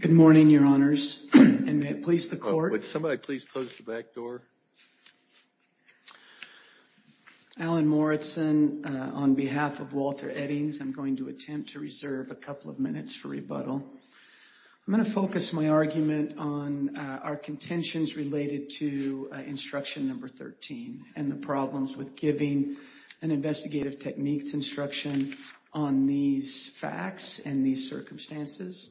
Good morning your honors and may it please the court. Would somebody please close the back door. Alan Morritson on behalf of Walter Eddings I'm going to attempt to reserve a couple of minutes for rebuttal. I'm going to focus my argument on our contentions related to instruction number 13 and the problems with giving an investigative techniques instruction on these facts and these circumstances.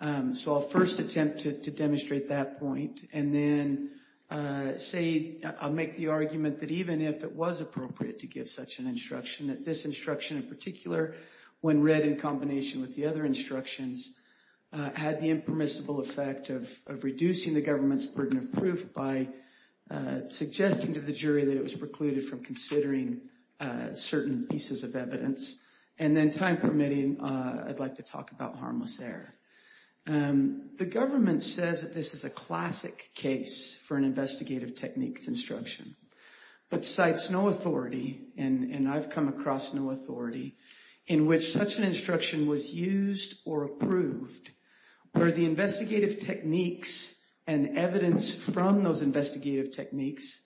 So I'll first attempt to demonstrate that point and then say I'll make the argument that even if it was appropriate to give such an instruction that this instruction in particular when read in combination with the other instructions had the impermissible effect of reducing the government's burden of proof by suggesting to the jury that it was precluded from considering certain pieces of evidence and then time permitting I'd like to talk about harmless error. The government says that this is a classic case for an investigative techniques instruction but cites no authority and I've come across no authority in which such an instruction was used or approved where the investigative techniques and evidence from those investigative techniques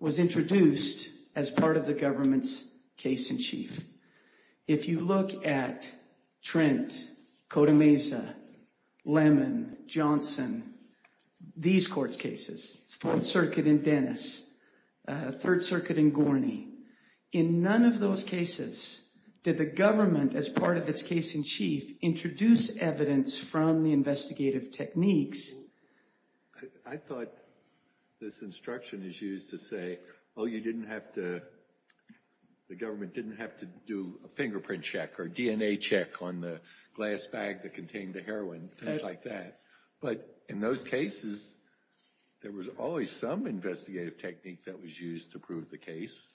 was introduced as part of the government's case-in-chief. If you look at Trent, Cotamesa, Lemon, Johnson, these court's cases, Fourth Circuit in Dennis, Third Circuit in Gorney, in none of those cases did the government as part of its case-in-chief introduce evidence from the investigative techniques. I thought this instruction is used to say oh you didn't have to the government didn't have to do a fingerprint check or DNA check on the glass bag that contained the heroin things like that but in those cases there was always some investigative technique that was used to prove the case.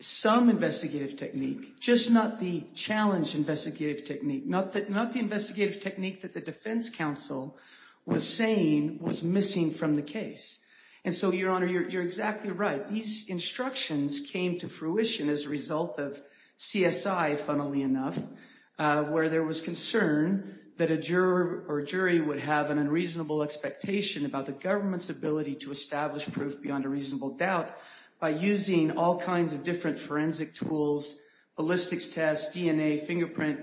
Some investigative technique just not the challenge investigative technique not that not the investigative technique that the defense counsel was saying was missing from the case and so your honor you're exactly right these instructions came to fruition as a result of CSI funnily enough where there was concern that a juror or jury would have an unreasonable expectation about the government's ability to establish proof beyond a reasonable doubt by using all kinds of different forensic tools, ballistics tests, DNA, fingerprint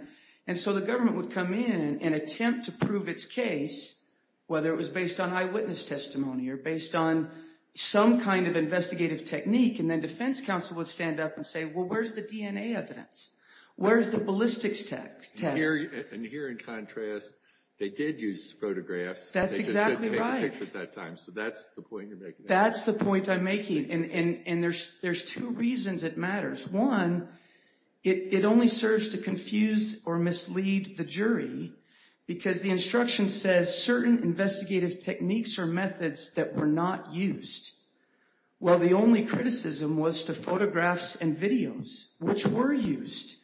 and so the government would come in and attempt to prove its case whether it was based on eyewitness testimony or based on some kind of investigative technique and then the defense counsel would stand up and say well where's the DNA evidence? Where's the ballistics test? And here in contrast they did use photographs. That's exactly right. So that's the point you're making. That's the point I'm making and and there's there's two reasons it matters. One it only serves to confuse or mislead the jury because the instruction says certain investigative techniques or methods that were not used. Well the only criticism was to photographs and videos which were used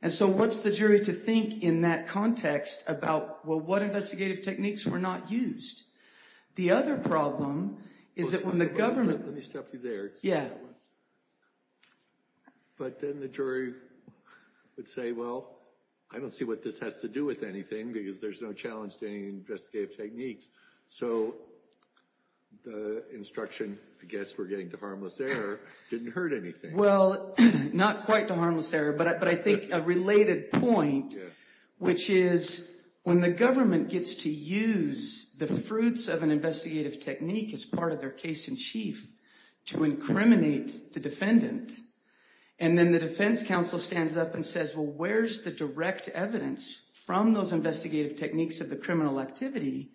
and so what's the jury to think in that context about well what investigative techniques were not used? The other problem is that when the government... Let me stop you there. Yeah. But then the jury would say well I don't see what this has to do with anything because there's no challenge to any investigative techniques. So the instruction I guess we're getting to harmless error didn't hurt anything. Well not quite to harmless error but I think a related point which is when the government gets to use the fruits of an investigative technique as part of their case-in-chief to incriminate the defendant and then the defense counsel stands up and says well where's the direct evidence from those investigative techniques of the criminal activity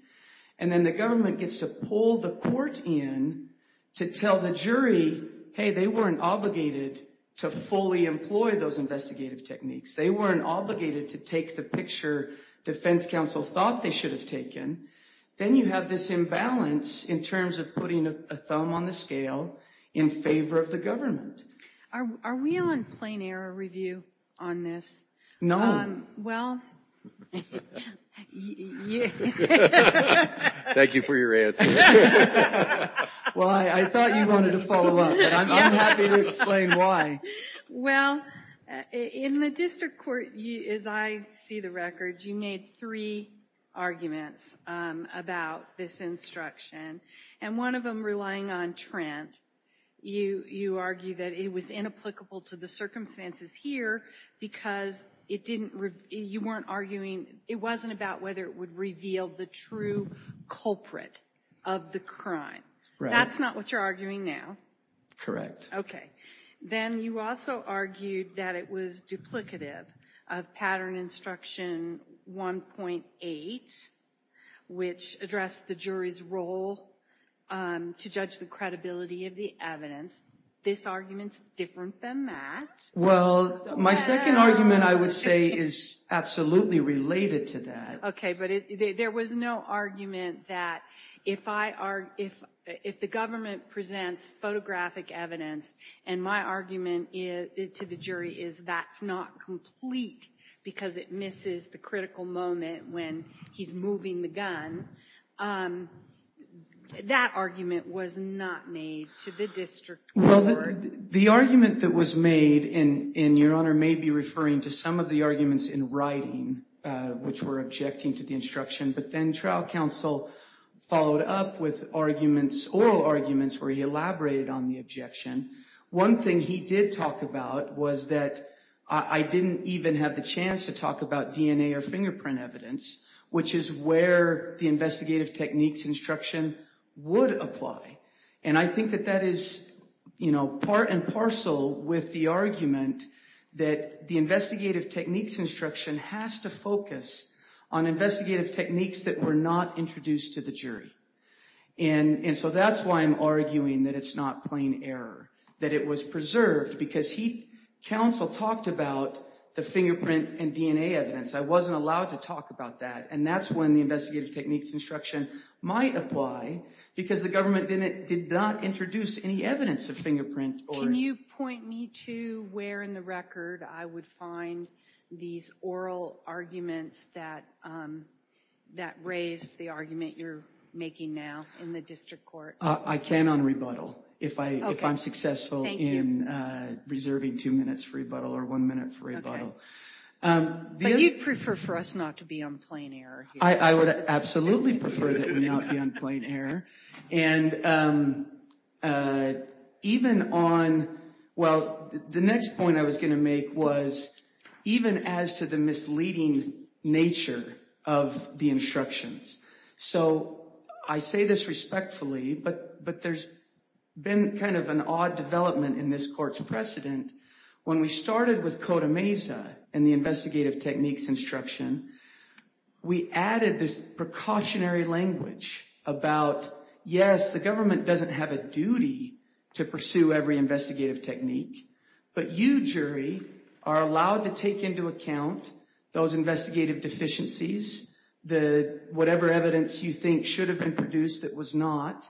and then the government gets to pull the court in to tell the jury hey they weren't obligated to fully employ those investigative techniques. They weren't obligated to take the picture defense counsel thought they should have taken. Then you have this imbalance in terms of putting a thumb on the scale in favor of the government. Are we on plain error review on this? No. Well... Thank you for your answer. Well I thought you wanted to follow up but I'm happy to explain why. Well in the district court as I see the records you made three arguments about this instruction and one of them relying on Trent. You you argue that it was inapplicable to the circumstances here because it didn't you weren't arguing it wasn't about whether it would reveal the true culprit of the crime. That's not what you're arguing now. Correct. Okay then you also argued that it was duplicative of pattern instruction 1.8 which addressed the jury's role to judge the credibility of the evidence. This argument's different than that. Well my second argument I would say is absolutely related to that. Okay but there was no argument that if I are if if the presents photographic evidence and my argument is to the jury is that's not complete because it misses the critical moment when he's moving the gun. That argument was not made to the district. Well the argument that was made in in your honor may be referring to some of the arguments in writing which were objecting to the instruction but then trial counsel followed up with arguments oral arguments where he elaborated on the objection. One thing he did talk about was that I didn't even have the chance to talk about DNA or fingerprint evidence which is where the investigative techniques instruction would apply and I think that that is you know part and parcel with the argument that the investigative techniques instruction has to focus on investigative techniques that were not introduced to the jury and and so that's why I'm arguing that it's not plain error. That it was preserved because he counsel talked about the fingerprint and DNA evidence. I wasn't allowed to talk about that and that's when the investigative techniques instruction might apply because the government didn't did not introduce any evidence of fingerprint. Can you point me to where in the record I would find these oral arguments that that raised the argument you're making now in the district court? I can on rebuttal if I if I'm successful in reserving two minutes for rebuttal or one minute for rebuttal. But you'd prefer for us not to be on plain error. I would absolutely prefer that we not be on plain error and even on well the next point I was going to make was even as to the misleading nature of the instructions. So I say this respectfully but but there's been kind of an odd development in this court's precedent. When we started with Coda Mesa and the investigative techniques instruction we added this precautionary language about yes the government doesn't have a duty to pursue every investigative technique but you jury are allowed to take into account those investigative deficiencies the whatever evidence you think should have been produced that was not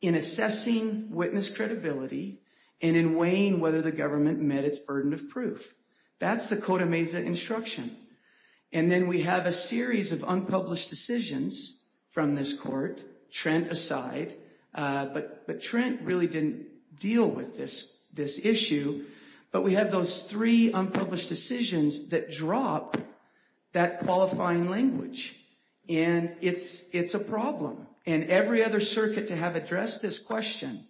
in assessing witness credibility and in weighing whether the government met its burden of proof. That's the Coda Mesa instruction and then we have a series of unpublished decisions from this court, Trent aside, but but Trent really didn't deal with this this issue but we have those three unpublished decisions that drop that qualifying language and it's it's a problem and every other circuit to have addressed this question,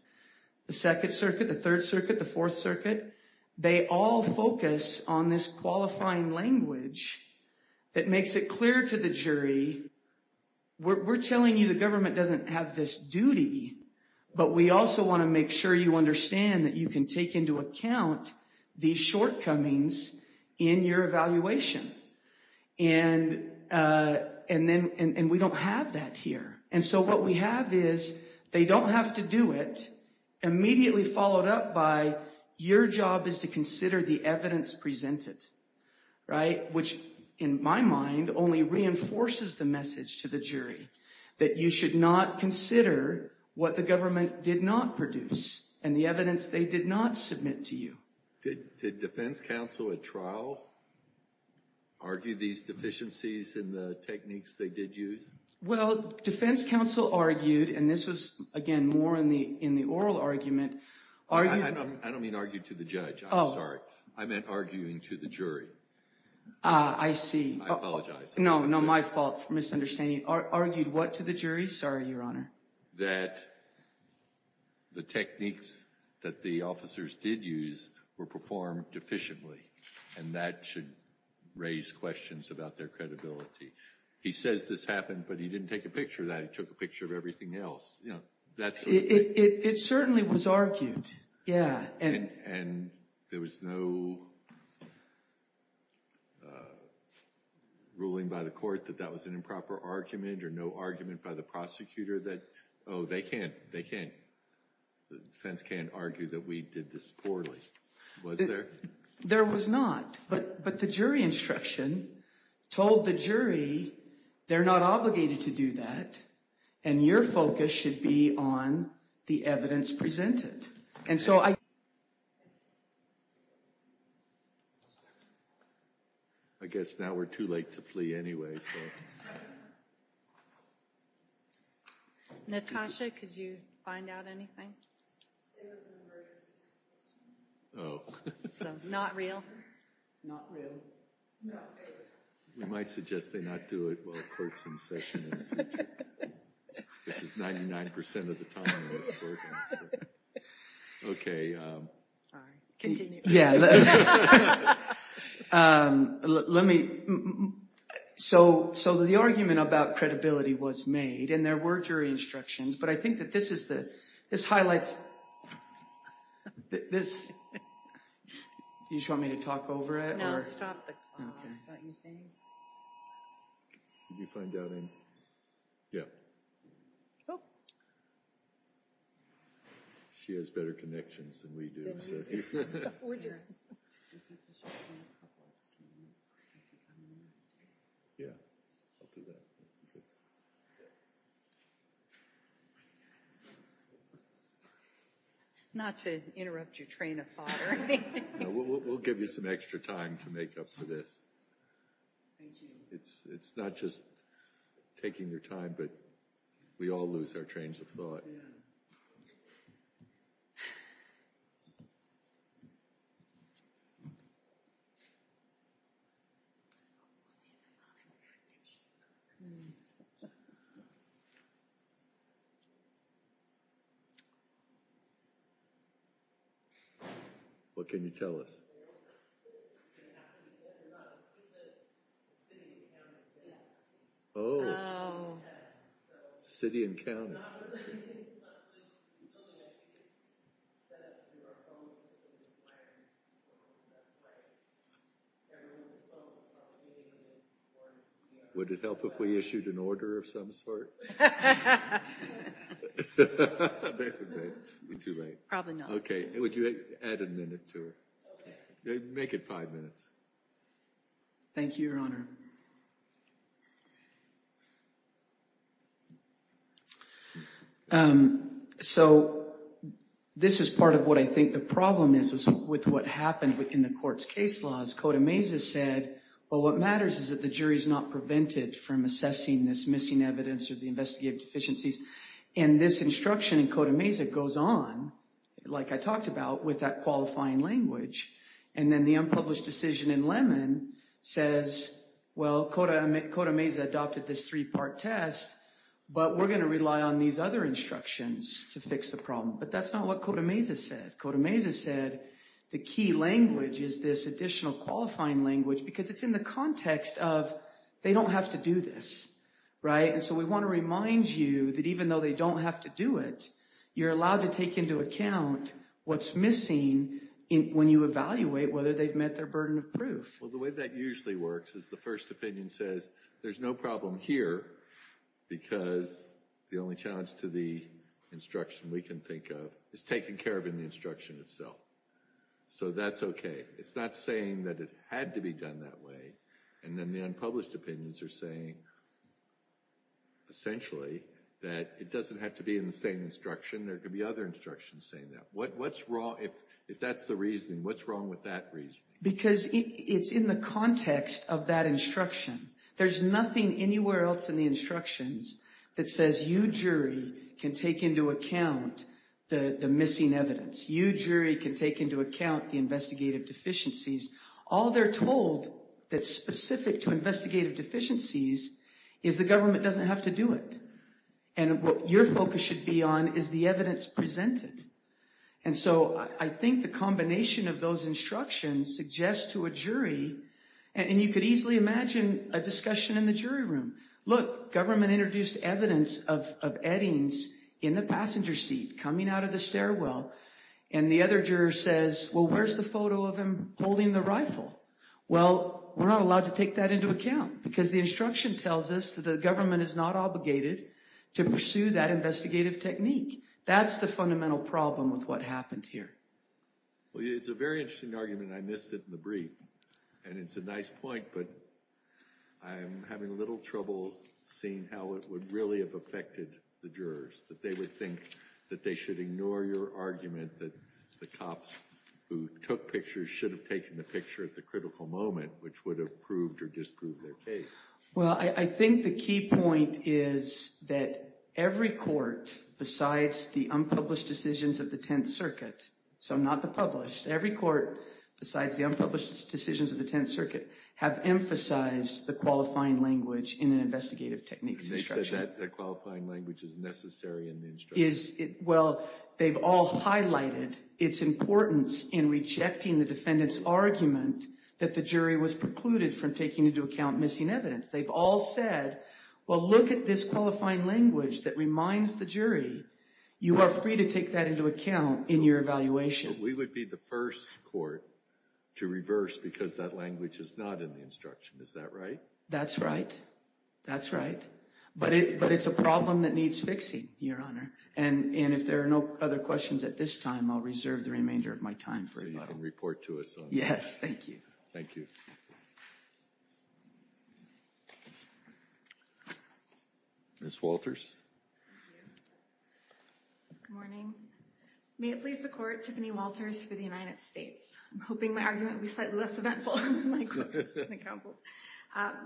the Second Circuit, the Third Circuit, the Fourth Circuit, they all focus on this qualifying language that makes it clear to the jury we're telling you the government doesn't have this duty but we also want to make sure you understand that you can take into account these shortcomings in your evaluation and and then and we don't have that here and so what we have is they don't have to do it immediately followed up by your job is to consider the evidence presented, right, which in my mind only reinforces the message to the jury that you should not consider what the government did not produce and the evidence they did not submit to you. Did defense counsel at trial argue these deficiencies in the techniques they did use? Well defense counsel argued and this was again more in the in the oral argument. I don't mean argue to the judge, I'm sorry, I meant arguing to the jury. I see. I apologize. No no my fault for misunderstanding. Argued what to the jury? Sorry, Your Honor. That the techniques that the officers did use were performed efficiently and that should raise questions about their credibility. He says this happened but he didn't take a picture of that, he took a picture of everything else, you know. It certainly was argued, yeah. And there was no ruling by the court that that was an improper argument or no argument by the prosecutor that, oh they can't, they can't, the defense can't argue that we did this poorly. Was there? There was not but but the jury instruction told the jury they're not obligated to do that and your focus should be on the evidence presented and so I guess now we're too late to flee anyway. Natasha could you find out anything? Not real. Not real. We might suggest they not do it while the court's in session in the future, which is 99% of the time. Okay. Sorry, continue. Yeah, let me, so the argument about credibility was made and there were jury instructions but I think that this is highlights, this, you just want me to talk over it? No, stop the clock. Did you find out anything? Yeah. She has better connections than we do. Not to interrupt your train of thought or anything. We'll give you some extra time to make up for this. It's, it's not just taking your time but we all lose our trains of thought. What can you tell us? Oh, city and county. Would it help if we issued an order of some sort? Too late. Probably not. Okay, would you add a minute to it? Make it five minutes. Thank you, Your Honor. So, this is part of what I think the problem is with what happened within the court's case laws. Cota Mesa said, well what matters is that the jury's not prevented from assessing this missing evidence or the investigative deficiencies. And this instruction in Cota Mesa goes on, like I talked about, with that qualifying language. And then the unpublished decision in Lemon says, well, Cota Mesa adopted this three-part test, but we're going to rely on these other instructions to fix the problem. But that's not what Cota Mesa said. Cota Mesa said the key language is this additional qualifying language because it's in the context of they don't have to do this. Right? And so we want to remind you that even though they don't have to do it, you're allowed to take into account what's missing when you evaluate whether they've met their burden of proof. Well, the way that usually works is the first opinion says, there's no problem here because the only challenge to the instruction we can think of is taken care of in the instruction itself. So that's okay. It's not saying that it had to be done that way. And then the unpublished opinions are saying, essentially, that it doesn't have to be in the same instruction. There could be other instructions saying that. What's wrong, if that's the reasoning, what's wrong with that reasoning? Because it's in the context of that instruction. There's nothing anywhere else in the instructions that says you jury can take into account the missing evidence. You jury can take into account the investigative deficiencies. All they're told that's specific to investigative deficiencies is the government doesn't have to do it. And what your focus should be on is the evidence presented. And so I think the combination of those instructions suggests to a jury, and you could easily imagine a discussion in the jury room. Look, government introduced evidence of eddings in the passenger seat coming out of the stairwell. And the other juror says, well, where's the photo of him holding the rifle? Well, we're not allowed to take that into account because the instruction tells us that the government is not obligated to pursue that investigative technique. That's the fundamental problem with what happened here. Well, it's a very interesting argument, and I missed it in the brief. And it's a nice point, but I'm having a little trouble seeing how it would really have affected the jurors, that they would think that they should ignore your argument that the cops who took pictures should have taken the picture at the critical moment, which would have proved or disproved their case. Well, I think the key point is that every court, besides the unpublished decisions of the Tenth Circuit, so not the published, every court besides the unpublished decisions of the Tenth Circuit have emphasized the qualifying language in an investigative techniques instruction. Is that qualifying language is necessary in the instruction? Is that right? That's right. That's right. But it's a problem that needs fixing, Your Honor. And if there are no other questions at this time, I'll reserve the remainder of my time. So you can report to us on that. Yes, thank you. Thank you. Ms. Walters. Good morning. May it please the court, Tiffany Walters for the United States. I'm hoping my argument will be slightly less eventful than the counsel's.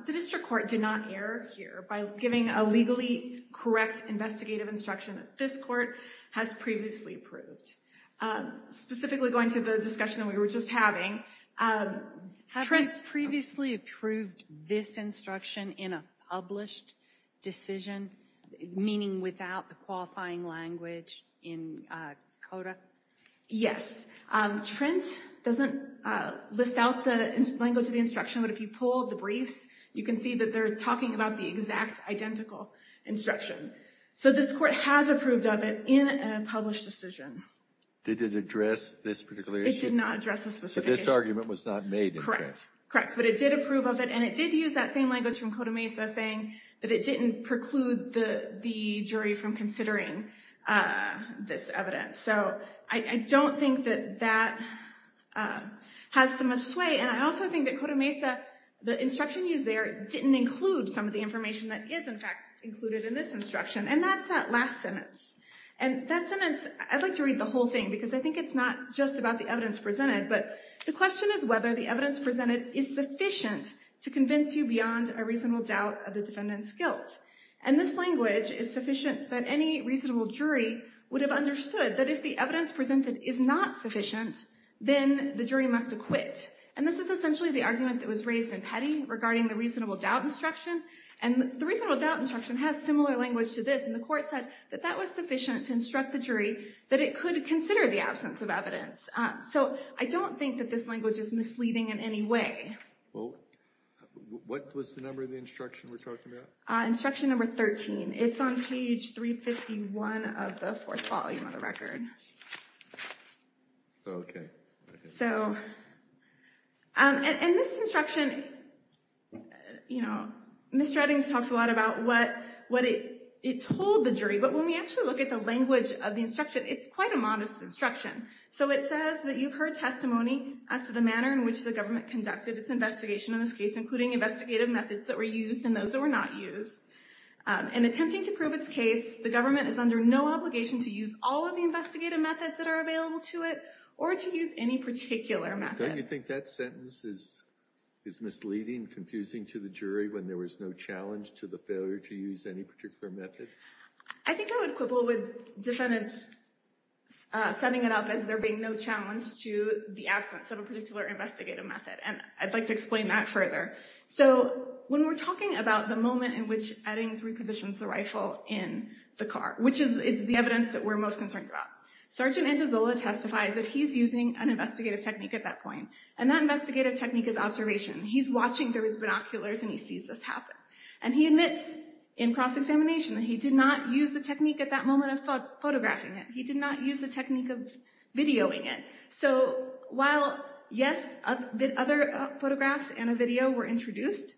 The district court did not err here by giving a legally correct investigative instruction that this court has previously approved. Specifically going to the discussion we were just having. Have we previously approved this instruction in a published decision, meaning without the qualifying language in CODA? Yes. Trent doesn't list out the language of the instruction, but if you pull the briefs, you can see that they're talking about the exact identical instruction. So this court has approved of it in a published decision. Did it address this particular issue? It did not address this specific issue. This argument was not made, in fact. Correct. Correct. But it did approve of it, and it did use that same language from CODA MESA saying that it didn't preclude the jury from considering this evidence. So I don't think that that has so much sway. And I also think that CODA MESA, the instruction used there, didn't include some of the information that is, in fact, included in this instruction. And that's that last sentence. And that sentence, I'd like to read the whole thing, because I think it's not just about the evidence presented. But the question is whether the evidence presented is sufficient to convince you beyond a reasonable doubt of the defendant's guilt. And this language is sufficient that any reasonable jury would have understood that if the evidence presented is not sufficient, then the jury must acquit. And this is essentially the argument that was raised in Petty regarding the reasonable doubt instruction. And the reasonable doubt instruction has similar language to this. And the court said that that was sufficient to instruct the jury that it could consider the absence of evidence. So I don't think that this language is misleading in any way. Well, what was the number of the instruction we're talking about? Instruction number 13. It's on page 351 of the fourth volume of the record. OK. So in this instruction, Miss Stratton talks a lot about what it told the jury. But when we actually look at the language of the instruction, it's quite a modest instruction. So it says that you've heard testimony as to the manner in which the government conducted its investigation in this case, including investigative methods that were used and those that were not used. In attempting to prove its case, the government is under no obligation to use all of the investigative methods that are available to it or to use any particular method. Don't you think that sentence is misleading, confusing to the jury when there was no challenge to the failure to use any particular method? I think I would quibble with defendants setting it up as there being no challenge to the absence of a particular investigative method. And I'd like to explain that further. So when we're talking about the moment in which Eddings repositions the rifle in the car, which is the evidence that we're most concerned about, Sergeant Antizola testifies that he's using an investigative technique at that point. And that investigative technique is observation. He's watching through his binoculars, and he sees this happen. And he admits in cross-examination that he did not use the technique at that moment of photographing it. He did not use the technique of videoing it. So while, yes, other photographs and a video were introduced,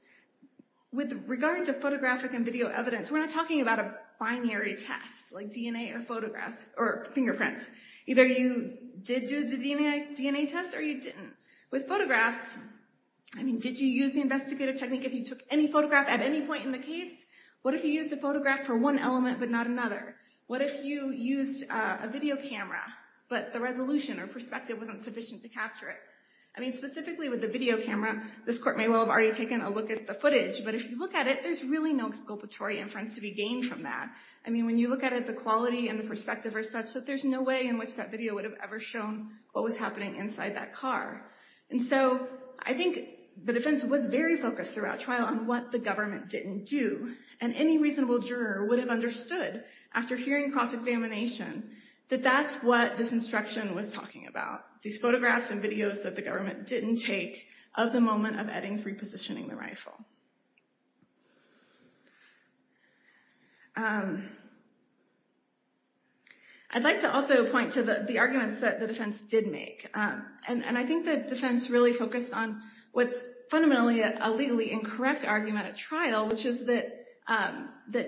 with regards to photographic and video evidence, we're not talking about a binary test like DNA or photographs or fingerprints. Either you did do the DNA test or you didn't. With photographs, did you use the investigative technique if you took any photograph at any point in the case? What if you used a photograph for one element but not another? What if you used a video camera, but the resolution or perspective wasn't sufficient to capture it? I mean, specifically with the video camera, this court may well have already taken a look at the footage. But if you look at it, there's really no exculpatory inference to be gained from that. I mean, when you look at it, the quality and the perspective are such that there's no way in which that video would have ever shown what was happening inside that car. And so I think the defense was very focused throughout trial on what the government didn't do. And any reasonable juror would have understood, after hearing cross-examination, that that's what this instruction was talking about. These photographs and videos that the government didn't take of the moment of Eddings repositioning the rifle. I'd like to also point to the arguments that the defense did make. And I think the defense really focused on what's fundamentally a legally incorrect argument at trial, which is that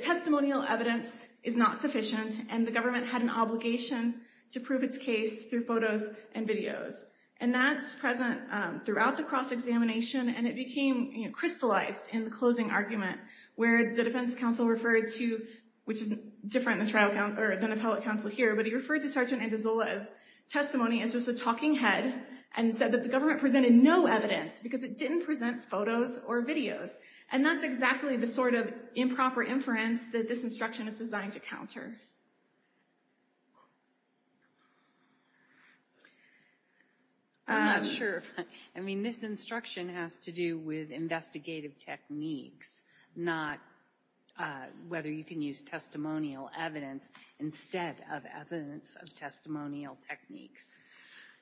testimonial evidence is not sufficient, and the government had an obligation to prove its case through photos and videos. And that's present throughout the cross-examination, and it became crystallized in the closing argument, where the defense counsel referred to, which is different than the appellate counsel here, but he referred to Sargent and DeZolla's testimony as just a talking head, and said that the government presented no evidence, because it didn't present photos or videos. And that's exactly the sort of improper inference that this instruction is designed to counter. I'm not sure. I mean, this instruction has to do with investigative techniques, not whether you can use testimonial evidence instead of evidence of testimonial techniques.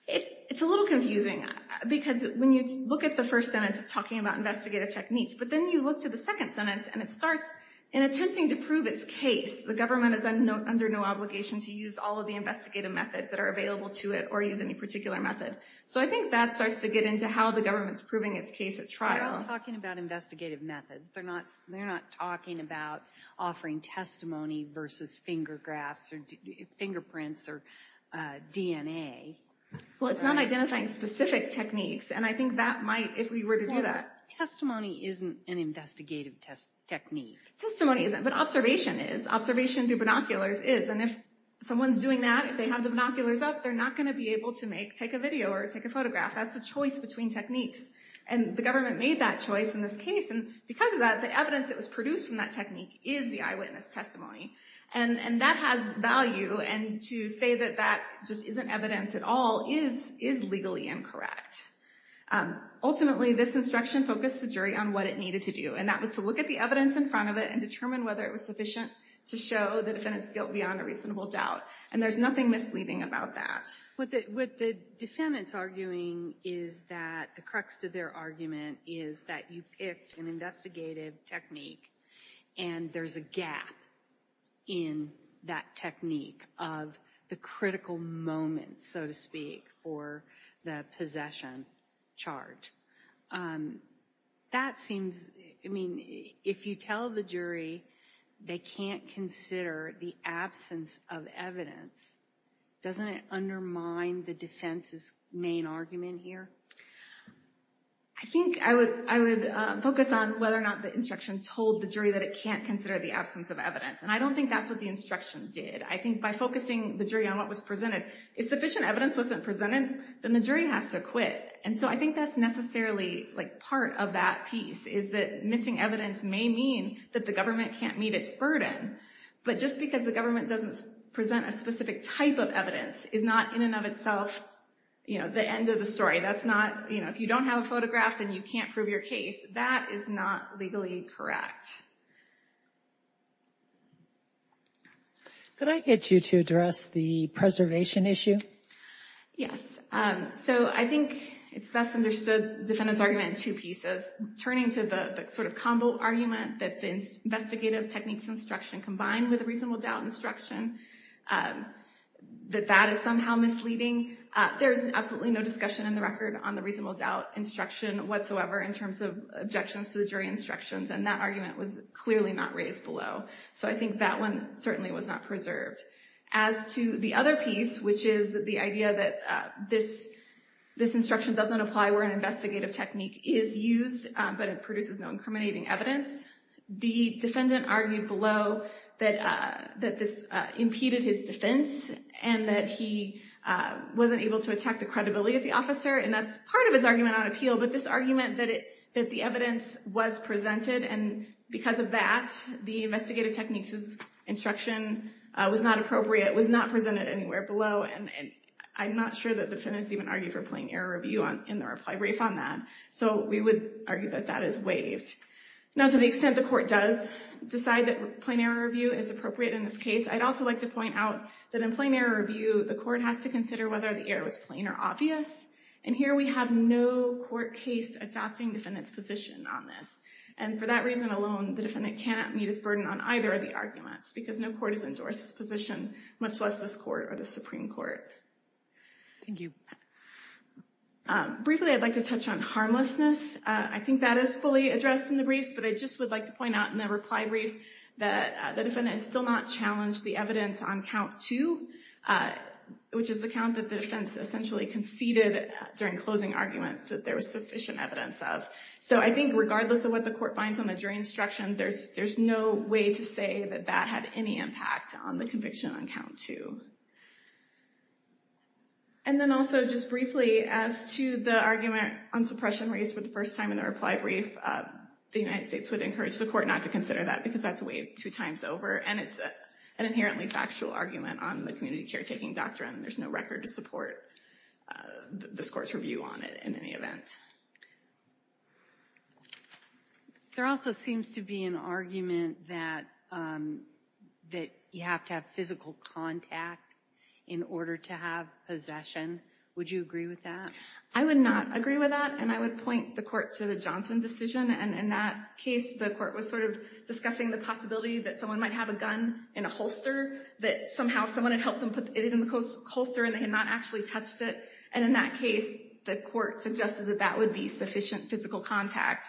It's a little confusing, because when you look at the first sentence, it's talking about investigative techniques. But then you look to the second sentence, and it starts, the government is under no obligation to use all of the investigative methods that are available to it, or use any particular method. So I think that starts to get into how the government's proving its case at trial. They're not talking about investigative methods. They're not talking about offering testimony versus finger graphs or fingerprints or DNA. Well, it's not identifying specific techniques, and I think that might, if we were to do that. Testimony isn't an investigative technique. Testimony isn't, but observation is. Observation through binoculars is. And if someone's doing that, if they have the binoculars up, they're not going to be able to take a video or take a photograph. That's a choice between techniques. And the government made that choice in this case. And because of that, the evidence that was produced from that technique is the eyewitness testimony. And that has value. And to say that that just isn't evidence at all is legally incorrect. Ultimately, this instruction focused the jury on what it needed to do, and that was to look at the evidence in front of it and determine whether it was sufficient to show the defendant's guilt beyond a reasonable doubt. And there's nothing misleading about that. What the defendant's arguing is that the crux to their argument is that you picked an investigative technique and there's a gap in that technique of the critical moment, so to speak, or the possession charge. That seems, I mean, if you tell the jury they can't consider the absence of evidence, doesn't it undermine the defense's main argument here? I think I would focus on whether or not the instruction told the jury that it can't consider the absence of evidence. And I don't think that's what the instruction did. I think by focusing the jury on what was presented, if sufficient evidence wasn't presented, then the jury has to quit. And so I think that's necessarily part of that piece, is that missing evidence may mean that the government can't meet its burden, but just because the government doesn't present a specific type of evidence is not in and of itself the end of the story. If you don't have a photograph, then you can't prove your case. That is not legally correct. Could I get you to address the preservation issue? Yes. So I think it's best understood defendant's argument in two pieces. Turning to the sort of combo argument that the investigative techniques instruction combined with a reasonable doubt instruction, that that is somehow misleading. There is absolutely no discussion in the record on the reasonable doubt instruction whatsoever, in terms of objections to the jury instructions, and that argument was clearly not raised below. So I think that one certainly was not preserved. As to the other piece, which is the idea that this instruction doesn't apply where an investigative technique is used, but it produces no incriminating evidence, the defendant argued below that this impeded his defense, and that he wasn't able to attack the credibility of the officer. And that's part of his argument on appeal, but this argument that the evidence was presented, and because of that, the investigative techniques instruction was not appropriate, was not presented anywhere below, and I'm not sure that the defendants even argued for plain error review in the reply brief on that. So we would argue that that is waived. Now to the extent the court does decide that plain error review is appropriate in this case, I'd also like to point out that in plain error review, the court has to consider whether the error was plain or obvious, and here we have no court case adopting defendant's position on this. And for that reason alone, the defendant cannot meet his burden on either of the arguments, because no court has endorsed his position, much less this court or the Supreme Court. Thank you. Briefly, I'd like to touch on harmlessness. I think that is fully addressed in the briefs, but I just would like to point out in the reply brief that the defendant still not challenged the evidence on count two, which is the count that the defense essentially conceded during closing arguments that there was sufficient evidence of. So I think regardless of what the court finds on the jury instruction, there's no way to say that that had any impact on the conviction on count two. And then also just briefly, as to the argument on suppression raised for the first time in the reply brief, the United States would encourage the court not to consider that, because that's waived two times over, and it's an inherently factual argument on the community caretaking doctrine. There's no record to support this court's review on it in any event. There also seems to be an argument that you have to have physical contact in order to have possession. Would you agree with that? I would not agree with that, and I would point the court to the Johnson decision. And in that case, the court was sort of discussing the possibility that someone might have a gun in a holster, that somehow someone had helped them put it in the holster, and they had not actually touched it. And in that case, the court suggested that that would be sufficient physical contact.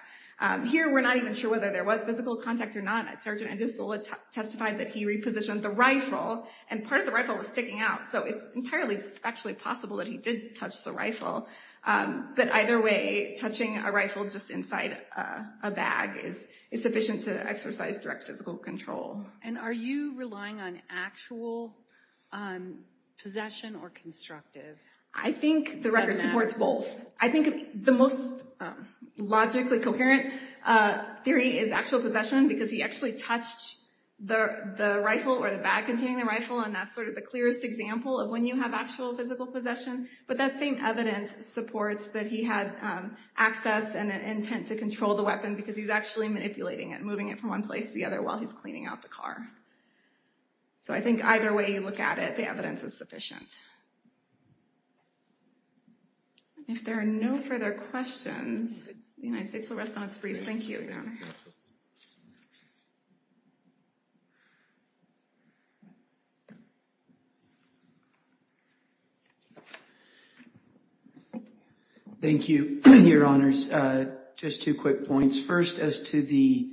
Here, we're not even sure whether there was physical contact or not. Sergeant Edisola testified that he repositioned the rifle, and part of the rifle was sticking out. So it's entirely factually possible that he did touch the rifle. But either way, touching a rifle just inside a bag is sufficient to exercise direct physical control. And are you relying on actual possession or constructive? I think the record supports both. I think the most logically coherent theory is actual possession, because he actually touched the rifle or the bag containing the rifle, and that's sort of the clearest example of when you have actual physical possession. But that same evidence supports that he had access and an intent to control the weapon, because he's actually manipulating it, moving it from one place to the other while he's cleaning out the car. So I think either way you look at it, the evidence is sufficient. If there are no further questions, the United States will rest on its briefs. Thank you, Your Honor. Thank you, Your Honors. Just two quick points. First, as to the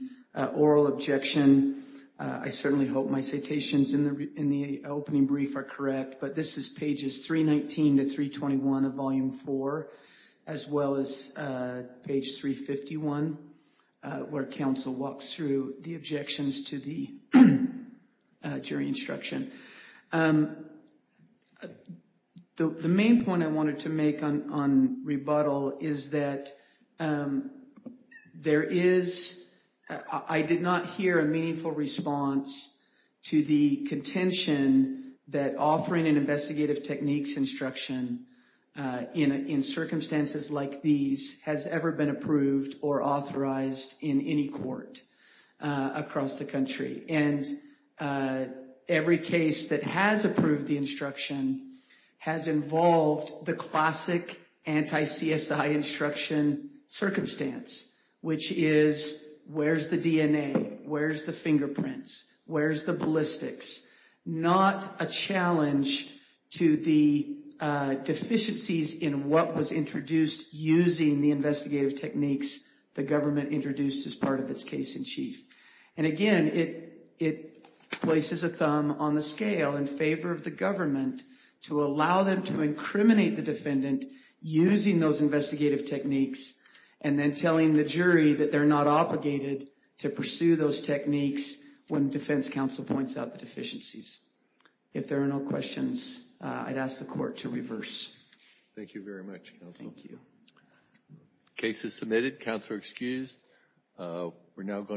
oral objection, I certainly hope my citations in the opening brief are correct, but this is pages 319 to 321 of Volume 4, as well as page 351, where counsel walks through the objections to the jury instruction. The main point I wanted to make on rebuttal is that there is – I did not hear a meaningful response to the contention that offering an investigative techniques instruction in circumstances like these has ever been approved or authorized in any court across the country. And every case that has approved the instruction has involved the classic anti-CSI instruction circumstance, which is where's the DNA, where's the fingerprints, where's the ballistics? Not a challenge to the deficiencies in what was introduced using the investigative techniques the government introduced as part of its case in chief. And, again, it places a thumb on the scale in favor of the government to allow them to incriminate the defendant using those investigative techniques and then telling the jury that they're not obligated to pursue those techniques when defense counsel points out the deficiencies. If there are no questions, I'd ask the court to reverse. Thank you very much, counsel. Thank you. Case is submitted. Counsel are excused. We're now going to...